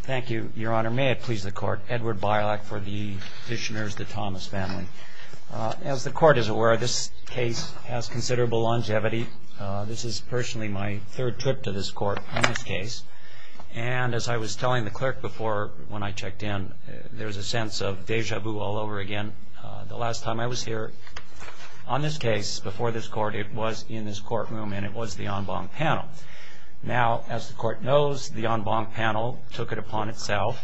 Thank you, Your Honor. May it please the Court, Edward Bialak for the Dishonors, the Thomas family. As the Court is aware, this case has considerable longevity. This is personally my third trip to this Court on this case. And as I was telling the Clerk before, when I checked in, there was a sense of déjà vu all over again. The last time I was here on this case, before this Court, it was in this courtroom and it was the en banc panel. Now, as the Court knows, the en banc panel took it upon itself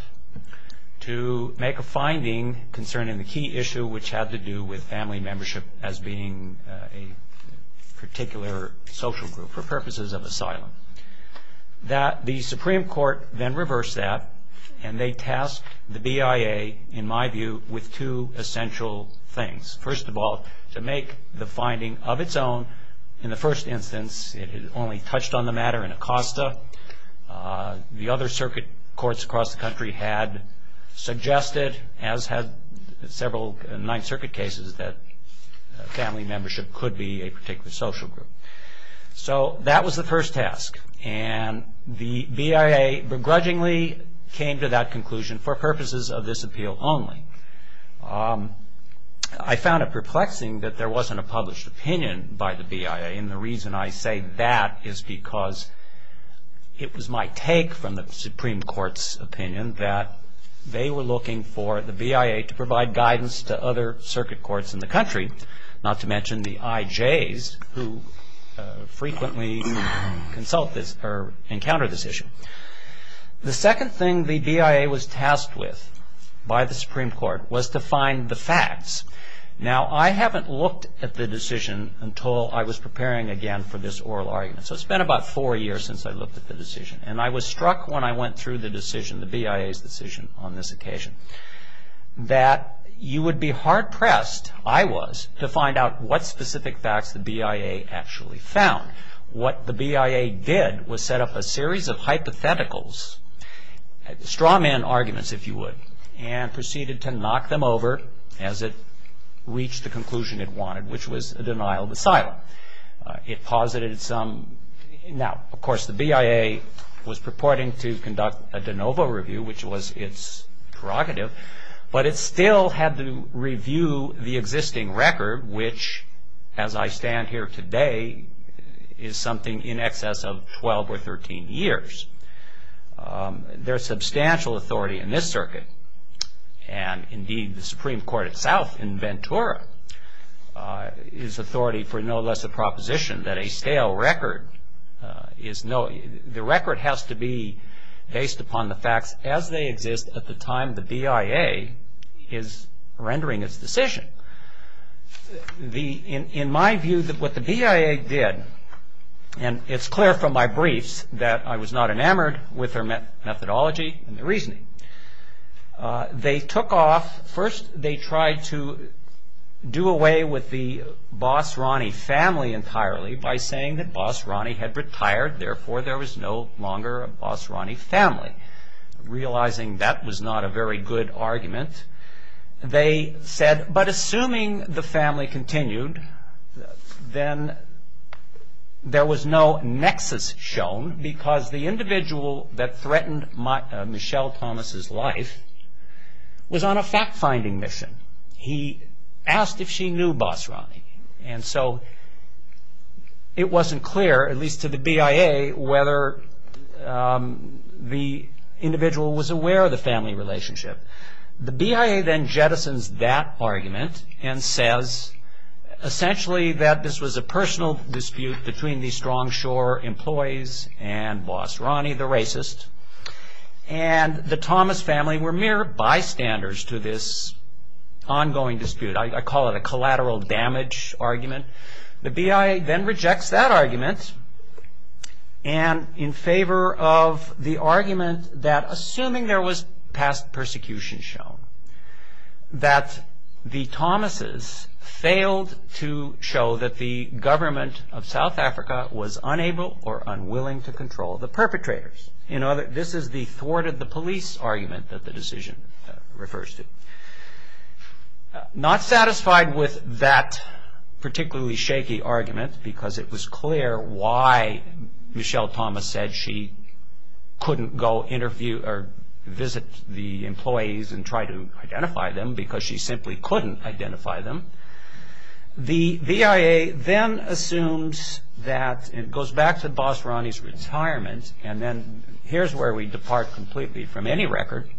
to make a finding concerning the key issue which had to do with family membership as being a particular social group for purposes of asylum. The Supreme Court then reversed that and they tasked the BIA, in my view, with two essential things. First of all, to make the finding of its own. In the first instance, it had only touched on the matter in Acosta. The other circuit courts across the country had suggested, as had several Ninth Circuit cases, that family membership could be a particular social group. So that was the first task. And the BIA begrudgingly came to that conclusion for purposes of this appeal only. I found it perplexing that there wasn't a published opinion by the BIA. And the reason I say that is because it was my take from the Supreme Court's opinion that they were looking for the BIA to provide guidance to other circuit courts in the country, not to mention the IJs who frequently encounter this issue. The second thing the BIA was tasked with by the Supreme Court was to find the facts. Now, I haven't looked at the decision until I was preparing again for this oral argument. So it's been about four years since I looked at the decision. And I was struck when I went through the decision, the BIA's decision on this occasion, that you would be hard-pressed, I was, to find out what specific facts the BIA actually found. What the BIA did was set up a series of hypotheticals, strawman arguments, if you would, and proceeded to knock them over as it reached the conclusion it wanted, which was a denial of asylum. It posited some, now, of course, the BIA was purporting to conduct a de novo review, which was its prerogative, but it still had to review the existing record, which, as I stand here today, is something in excess of 12 or 13 years. There's substantial authority in this circuit, and indeed the Supreme Court itself in Ventura, is authority for no less a proposition that a stale record is no, the record has to be based upon the facts as they exist at the time the BIA is rendering its decision. In my view, what the BIA did, and it's clear from my briefs that I was not enamored with their methodology and their reasoning. They took off, first they tried to do away with the Boss Ronnie family entirely by saying that Boss Ronnie had retired, therefore there was no longer a Boss Ronnie family. Realizing that was not a very good argument, they said, but assuming the family continued, then there was no nexus shown because the individual that threatened Michelle Thomas' life was on a fact-finding mission. He asked if she knew Boss Ronnie, and so it wasn't clear, at least to the BIA, whether the individual was aware of the family relationship. The BIA then jettisons that argument and says essentially that this was a personal dispute between the Strong Shore employees and Boss Ronnie, the racist, and the Thomas family were mere bystanders to this ongoing dispute. I call it a collateral damage argument. The BIA then rejects that argument in favor of the argument that, assuming there was past persecution shown, that the Thomases failed to show that the government of South Africa was unable or unwilling to control the perpetrators. This is the thwarted the police argument that the decision refers to. Not satisfied with that particularly shaky argument because it was clear why Michelle Thomas said she couldn't go visit the employees and try to identify them because she simply couldn't identify them, the BIA then assumes that, and it goes back to Boss Ronnie's retirement, and then here's where we depart completely from any record.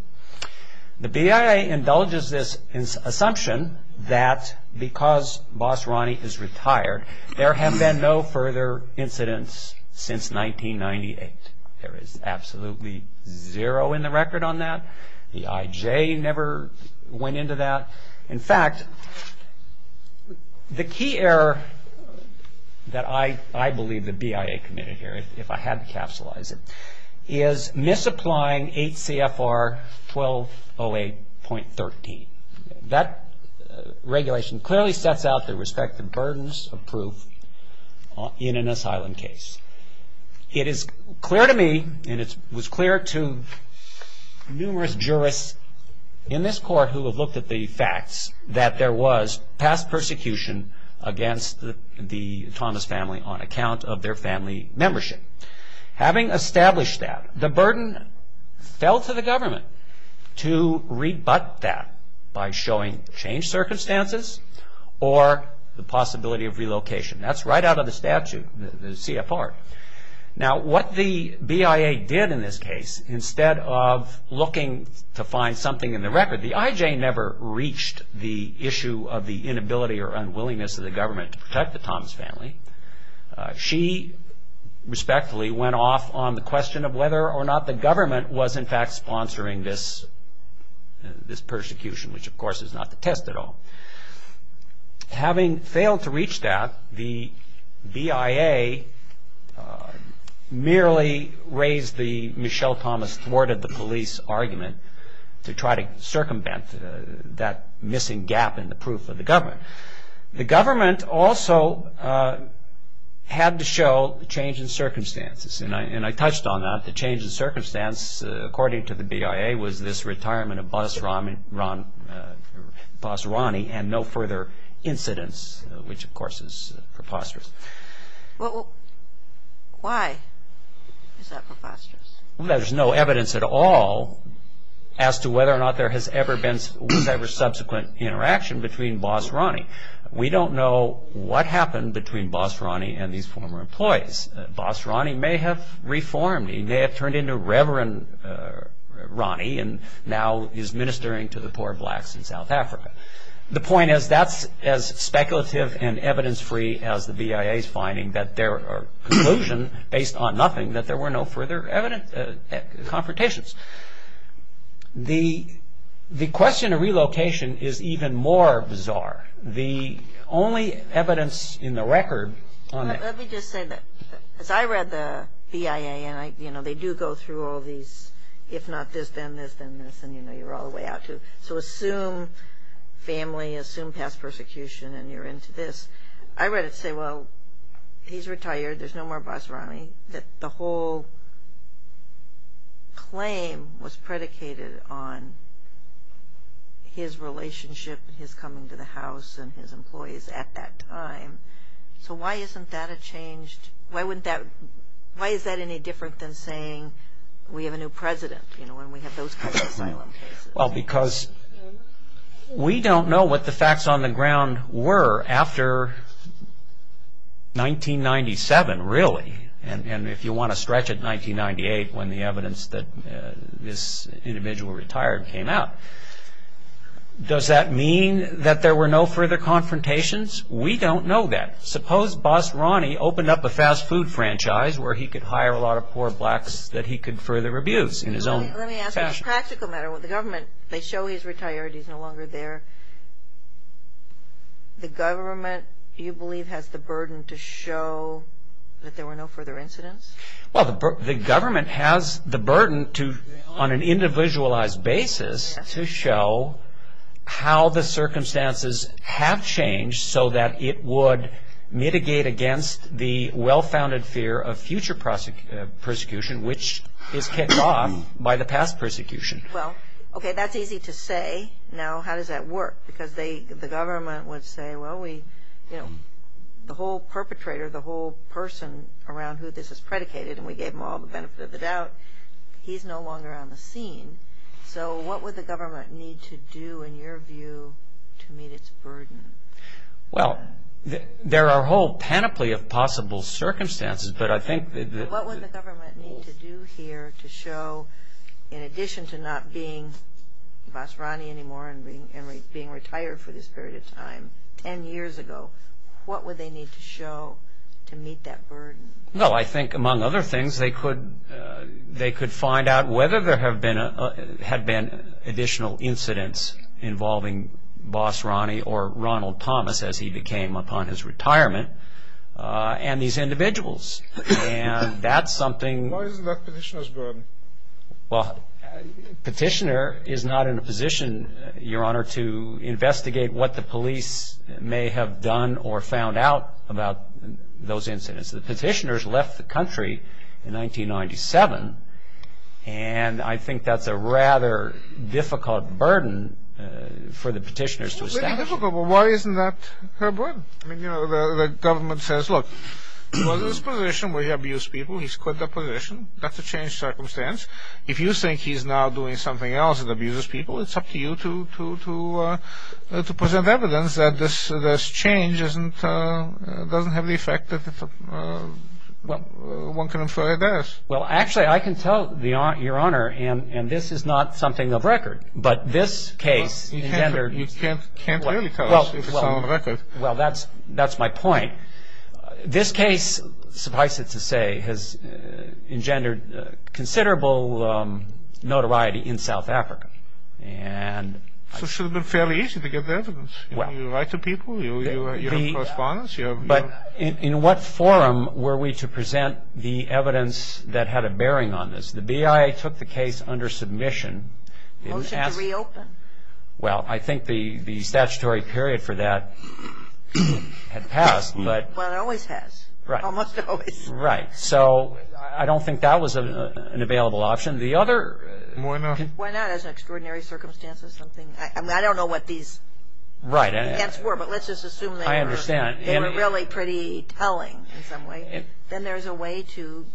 The BIA indulges this assumption that because Boss Ronnie is retired, there have been no further incidents since 1998. There is absolutely zero in the record on that. The IJ never went into that. In fact, the key error that I believe the BIA committed here, if I had to capsulize it, is misapplying 8 CFR 1208.13. That regulation clearly sets out the respective burdens of proof in an asylum case. It is clear to me and it was clear to numerous jurists in this court who have looked at the facts that there was past persecution against the Thomas family on account of their family membership. Having established that, the burden fell to the government to rebut that by showing changed circumstances or the possibility of relocation. That's right out of the statute, the CFR. Now, what the BIA did in this case, instead of looking to find something in the record, the IJ never reached the issue of the inability or unwillingness of the government to protect the Thomas family. She respectfully went off on the question of whether or not the government was in fact sponsoring this persecution, which of course is not the test at all. Having failed to reach that, the BIA merely raised the Michelle Thomas thwarted the police argument to try to circumvent that missing gap in the proof of the government. The government also had to show the change in circumstances. And I touched on that, the change in circumstance, according to the BIA, was this retirement of Boss Ronnie and no further incidents, which of course is preposterous. Why is that preposterous? There's no evidence at all as to whether or not there has ever been whatever subsequent interaction between Boss Ronnie. We don't know what happened between Boss Ronnie and these former employees. Boss Ronnie may have reformed, he may have turned into Reverend Ronnie and now is ministering to the poor blacks in South Africa. The point is that's as speculative and evidence-free as the BIA's finding that their conclusion, based on nothing, that there were no further confrontations. The question of relocation is even more bizarre. The only evidence in the record on that- Let me just say that as I read the BIA, and they do go through all these if not this, then this, then this, and you're all the way out to it. So assume family, assume past persecution, and you're into this. I read it and say, well, he's retired, there's no more Boss Ronnie. The whole claim was predicated on his relationship, his coming to the house and his employees at that time. So why isn't that a change? Why is that any different than saying we have a new president when we have those kinds of asylum cases? Well, because we don't know what the facts on the ground were after 1997, really. And if you want to stretch it, 1998, when the evidence that this individual retired came out. Does that mean that there were no further confrontations? We don't know that. Suppose Boss Ronnie opened up a fast food franchise where he could hire a lot of poor blacks that he could further abuse in his own fashion. Let me ask a practical matter. The government, they show he's retired, he's no longer there. The government, you believe, has the burden to show that there were no further incidents? Well, the government has the burden on an individualized basis to show how the circumstances have changed so that it would mitigate against the well-founded fear of future persecution, which is kicked off by the past persecution. Well, okay, that's easy to say. Now, how does that work? Because the government would say, well, the whole perpetrator, the whole person around who this is predicated, and we gave them all the benefit of the doubt, he's no longer on the scene. So what would the government need to do, in your view, to meet its burden? Well, there are a whole panoply of possible circumstances, but I think that what would the government need to do here to show, in addition to not being Boss Ronnie anymore and being retired for this period of time 10 years ago, what would they need to show to meet that burden? Well, I think, among other things, they could find out whether there had been additional incidents involving Boss Ronnie or Ronald Thomas, as he became upon his retirement, and these individuals, and that's something. Why isn't that Petitioner's burden? Well, Petitioner is not in a position, Your Honor, to investigate what the police may have done or found out about those incidents. The Petitioners left the country in 1997, and I think that's a rather difficult burden for the Petitioners to establish. Why isn't that their burden? The government says, look, he was in this position where he abused people, he's quit that position, that's a changed circumstance. If you think he's now doing something else that abuses people, it's up to you to present evidence that this change doesn't have the effect that one can infer it does. Well, actually, I can tell, Your Honor, and this is not something of record, but this case engendered... You can't really tell us if it's not on record. Well, that's my point. This case, suffice it to say, has engendered considerable notoriety in South Africa. So it should have been fairly easy to get the evidence. You write to people, you have correspondence, you have... But in what forum were we to present the evidence that had a bearing on this? The BIA took the case under submission. Motion to reopen? Well, I think the statutory period for that had passed, but... Well, it always has. Right. Almost always. Right. So I don't think that was an available option. The other... Why not? Why not? As an extraordinary circumstance or something. I don't know what these events were, but let's just assume they were... I understand. They were really pretty telling in some way. Then there's a way to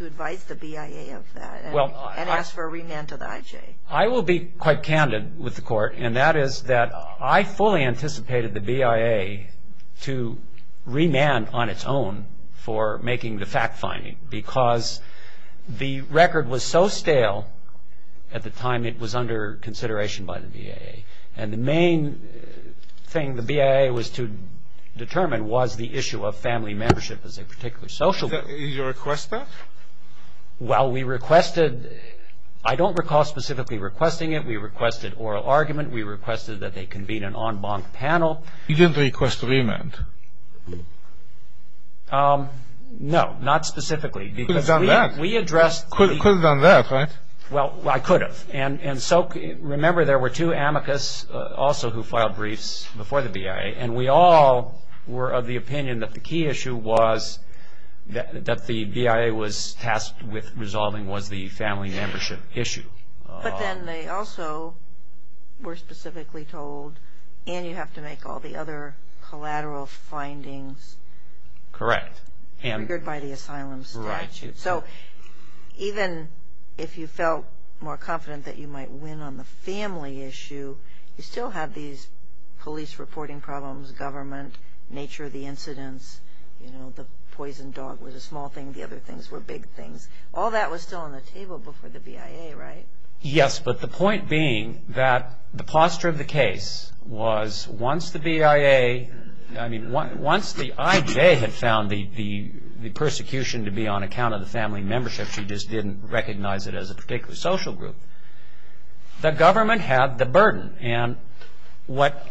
advise the BIA of that and ask for a remand to the IJ. I will be quite candid with the Court, and that is that I fully anticipated the BIA to remand on its own for making the fact-finding, because the record was so stale at the time it was under consideration by the BIA. And the main thing the BIA was to determine was the issue of family membership as a particular social group. Did you request that? Well, we requested... I don't recall specifically requesting it. We requested oral argument. We requested that they convene an en banc panel. You didn't request a remand? No, not specifically. You could have done that. We addressed... You could have done that, right? Well, I could have. Remember there were two amicus also who filed briefs before the BIA, and we all were of the opinion that the key issue was that the BIA was tasked with resolving was the family membership issue. But then they also were specifically told, and you have to make all the other collateral findings... Correct. ...rigored by the asylum statute. Right. So even if you felt more confident that you might win on the family issue, you still had these police reporting problems, government, nature of the incidents, you know, the poison dog was a small thing, the other things were big things. All that was still on the table before the BIA, right? Yes, but the point being that the posture of the case was once the BIA... Once the IJ had found the persecution to be on account of the family membership, she just didn't recognize it as a particular social group, the government had the burden. And what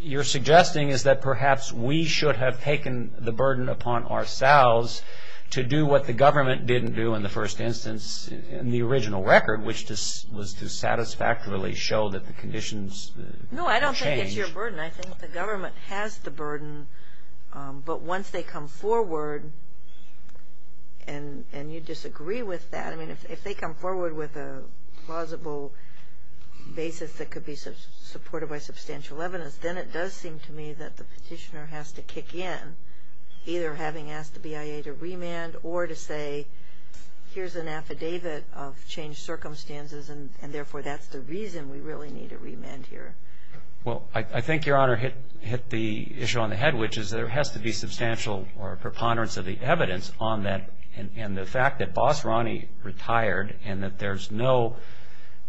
you're suggesting is that perhaps we should have taken the burden upon ourselves to do what the government didn't do in the first instance in the original record, which was to satisfactorily show that the conditions changed. No, I don't think it's your burden. I think the government has the burden, but once they come forward, and you disagree with that, I mean, if they come forward with a plausible basis that could be supported by substantial evidence, then it does seem to me that the petitioner has to kick in, either having asked the BIA to remand or to say, here's an affidavit of changed circumstances, and therefore that's the reason we really need a remand here. Well, I think, Your Honor, hit the issue on the head, which is there has to be substantial preponderance of the evidence on that, and the fact that Boss Ronnie retired and that there's no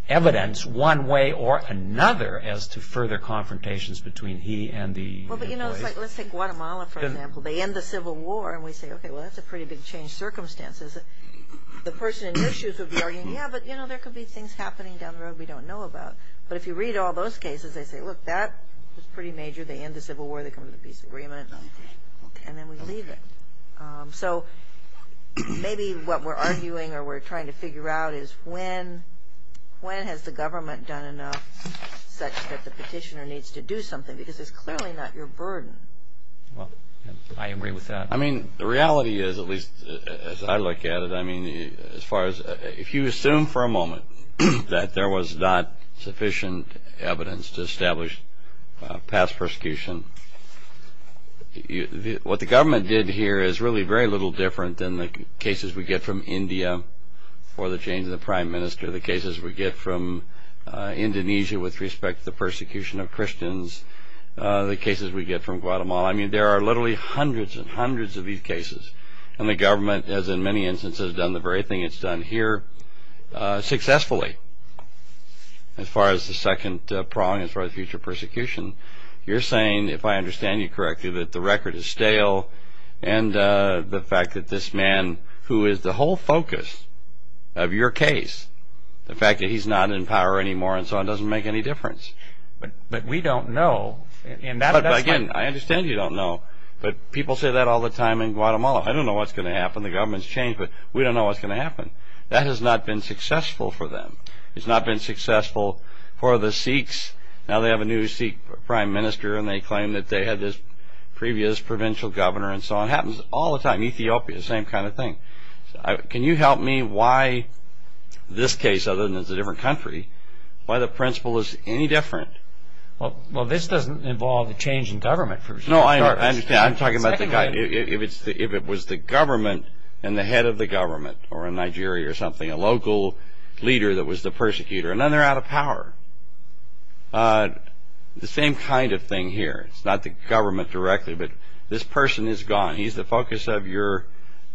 evidence one way or another as to further confrontations between he and the employees. Well, but, you know, it's like, let's take Guatemala, for example. They end the Civil War, and we say, okay, well, that's a pretty big change of circumstances. The person in your shoes would be arguing, yeah, but, you know, there could be things happening down the road we don't know about. But if you read all those cases, they say, look, that was pretty major. They end the Civil War. They come to the peace agreement, and then we leave it. So maybe what we're arguing or we're trying to figure out is when has the government done enough such that the petitioner needs to do something, because it's clearly not your burden. Well, I agree with that. I mean, the reality is, at least as I look at it, I mean, as far as if you assume for a moment that there was not sufficient evidence to establish past persecution, what the government did here is really very little different than the cases we get from India for the change of the prime minister, the cases we get from Indonesia with respect to the persecution of Christians, the cases we get from Guatemala. I mean, there are literally hundreds and hundreds of these cases, and the government has, in many instances, done the very thing it's done here, successfully, as far as the second prong, as far as future persecution. You're saying, if I understand you correctly, that the record is stale, and the fact that this man, who is the whole focus of your case, the fact that he's not in power anymore and so on doesn't make any difference. But we don't know. Again, I understand you don't know, but people say that all the time in Guatemala. I don't know what's going to happen. That has not been successful for them. It's not been successful for the Sikhs. Now they have a new Sikh prime minister, and they claim that they had this previous provincial governor and so on. It happens all the time. Ethiopia, the same kind of thing. Can you help me why this case, other than it's a different country, why the principle is any different? Well, this doesn't involve a change in government, for example. No, I understand. I'm talking about if it was the government and the head of the government, or in Nigeria or something, a local leader that was the persecutor, and then they're out of power. The same kind of thing here. It's not the government directly, but this person is gone. He's the focus of your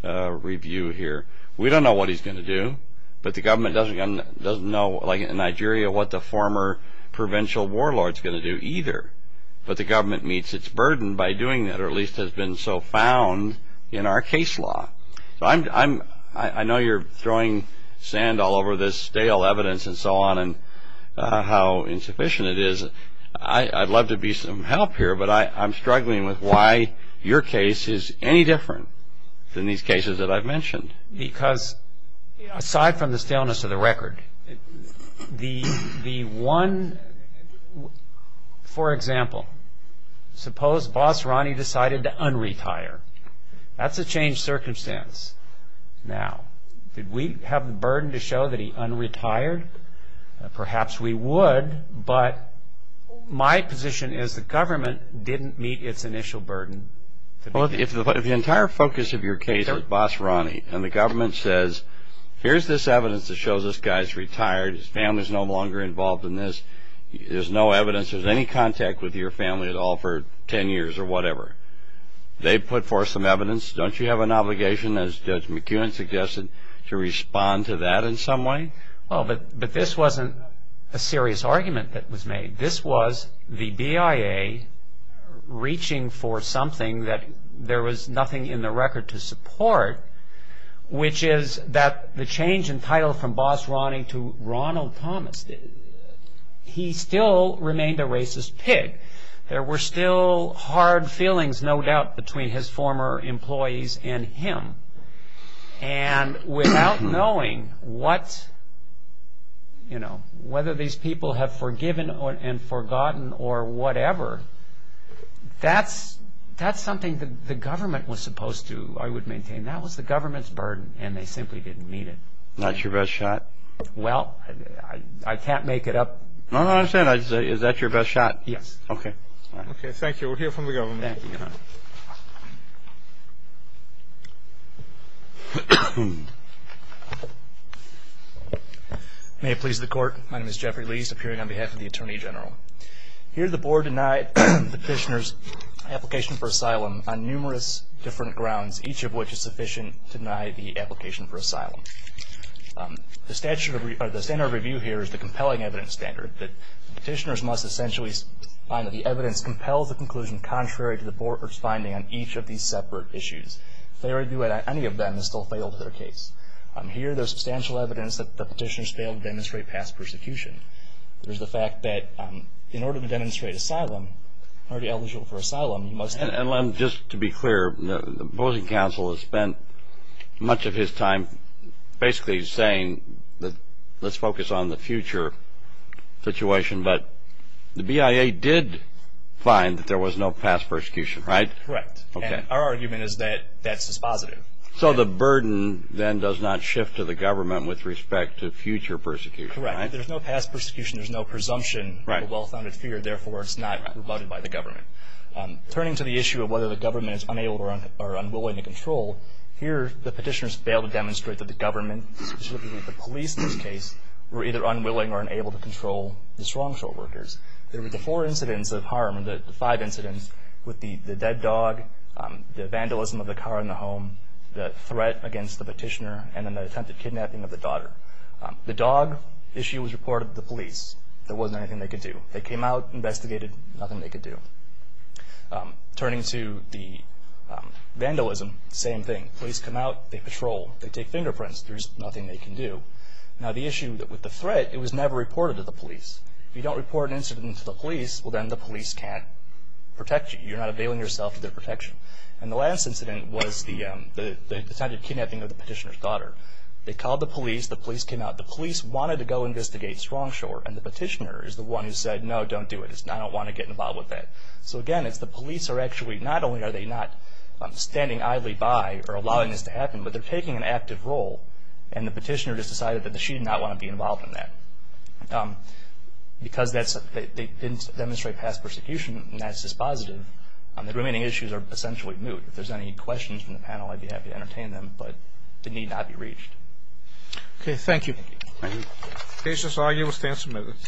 review here. We don't know what he's going to do, but the government doesn't know, like in Nigeria, what the former provincial warlord is going to do either. But the government meets its burden by doing that, or at least has been so found in our case law. I know you're throwing sand all over this stale evidence and so on and how insufficient it is. I'd love to be some help here, but I'm struggling with why your case is any different than these cases that I've mentioned. Because aside from the staleness of the record, the one... For example, suppose Boss Ronnie decided to un-retire. That's a changed circumstance. Now, did we have the burden to show that he un-retired? Perhaps we would, but my position is the government didn't meet its initial burden. Well, if the entire focus of your case was Boss Ronnie, and the government says, here's this evidence that shows this guy's retired, his family's no longer involved in this, there's no evidence, there's any contact with your family at all for ten years or whatever, they put forth some evidence, don't you have an obligation, as Judge McEwen suggested, to respond to that in some way? Well, but this wasn't a serious argument that was made. This was the BIA reaching for something that there was nothing in the record to support, which is that the change in title from Boss Ronnie to Ronald Thomas, he still remained a racist pig. There were still hard feelings, no doubt, between his former employees and him. And without knowing what, you know, whether these people have forgiven and forgotten or whatever, that's something that the government was supposed to, I would maintain, that was the government's burden, and they simply didn't meet it. Not your best shot? Well, I can't make it up. No, no, I understand. Is that your best shot? Yes. Okay. Okay, thank you. We'll hear from the government. Thank you, Your Honor. May it please the Court, my name is Jeffrey Lees, appearing on behalf of the Attorney General. Here, the Board denied petitioners' application for asylum on numerous different grounds, each of which is sufficient to deny the application for asylum. The statute of review, or the standard of review here, is the compelling evidence standard. Petitioners must essentially find that the evidence compels the conclusion contrary to the Board's finding on each of these separate issues. If they argue that any of them has still failed their case. Here, there's substantial evidence that the petitioners failed to demonstrate past persecution. There's the fact that in order to demonstrate asylum, already eligible for asylum, you must have... And let me just, to be clear, the opposing counsel has spent much of his time basically saying that let's focus on the future situation, but the BIA did find that there was no past persecution, right? Correct. Okay. And our argument is that that's dispositive. So the burden then does not shift to the government with respect to future persecution, right? There's no past persecution. There's no presumption of a well-founded fear. Therefore, it's not rebutted by the government. Turning to the issue of whether the government is unable or unwilling to control, here the petitioners failed to demonstrate that the government, specifically the police in this case, were either unwilling or unable to control the strong shore workers. There were the four incidents of harm, the five incidents, with the dead dog, the vandalism of the car in the home, the threat against the petitioner, and then the attempted kidnapping of the daughter. The dog issue was reported to the police. There wasn't anything they could do. They came out, investigated, nothing they could do. Turning to the vandalism, same thing. Police come out. They patrol. They take fingerprints. There's nothing they can do. Now, the issue with the threat, it was never reported to the police. If you don't report an incident to the police, well, then the police can't protect you. You're not availing yourself of their protection. And the last incident was the attempted kidnapping of the petitioner's daughter. They called the police. The police came out. The police wanted to go investigate strong shore, and the petitioner is the one who said, no, don't do it. I don't want to get involved with that. So, again, it's the police are actually not only are they not standing idly by or allowing this to happen, but they're taking an active role, and the petitioner just decided that she did not want to be involved in that. Because they didn't demonstrate past persecution, and that's just positive, the remaining issues are essentially moot. If there's any questions from the panel, I'd be happy to entertain them, but they need not be reached. Okay, thank you. Thank you.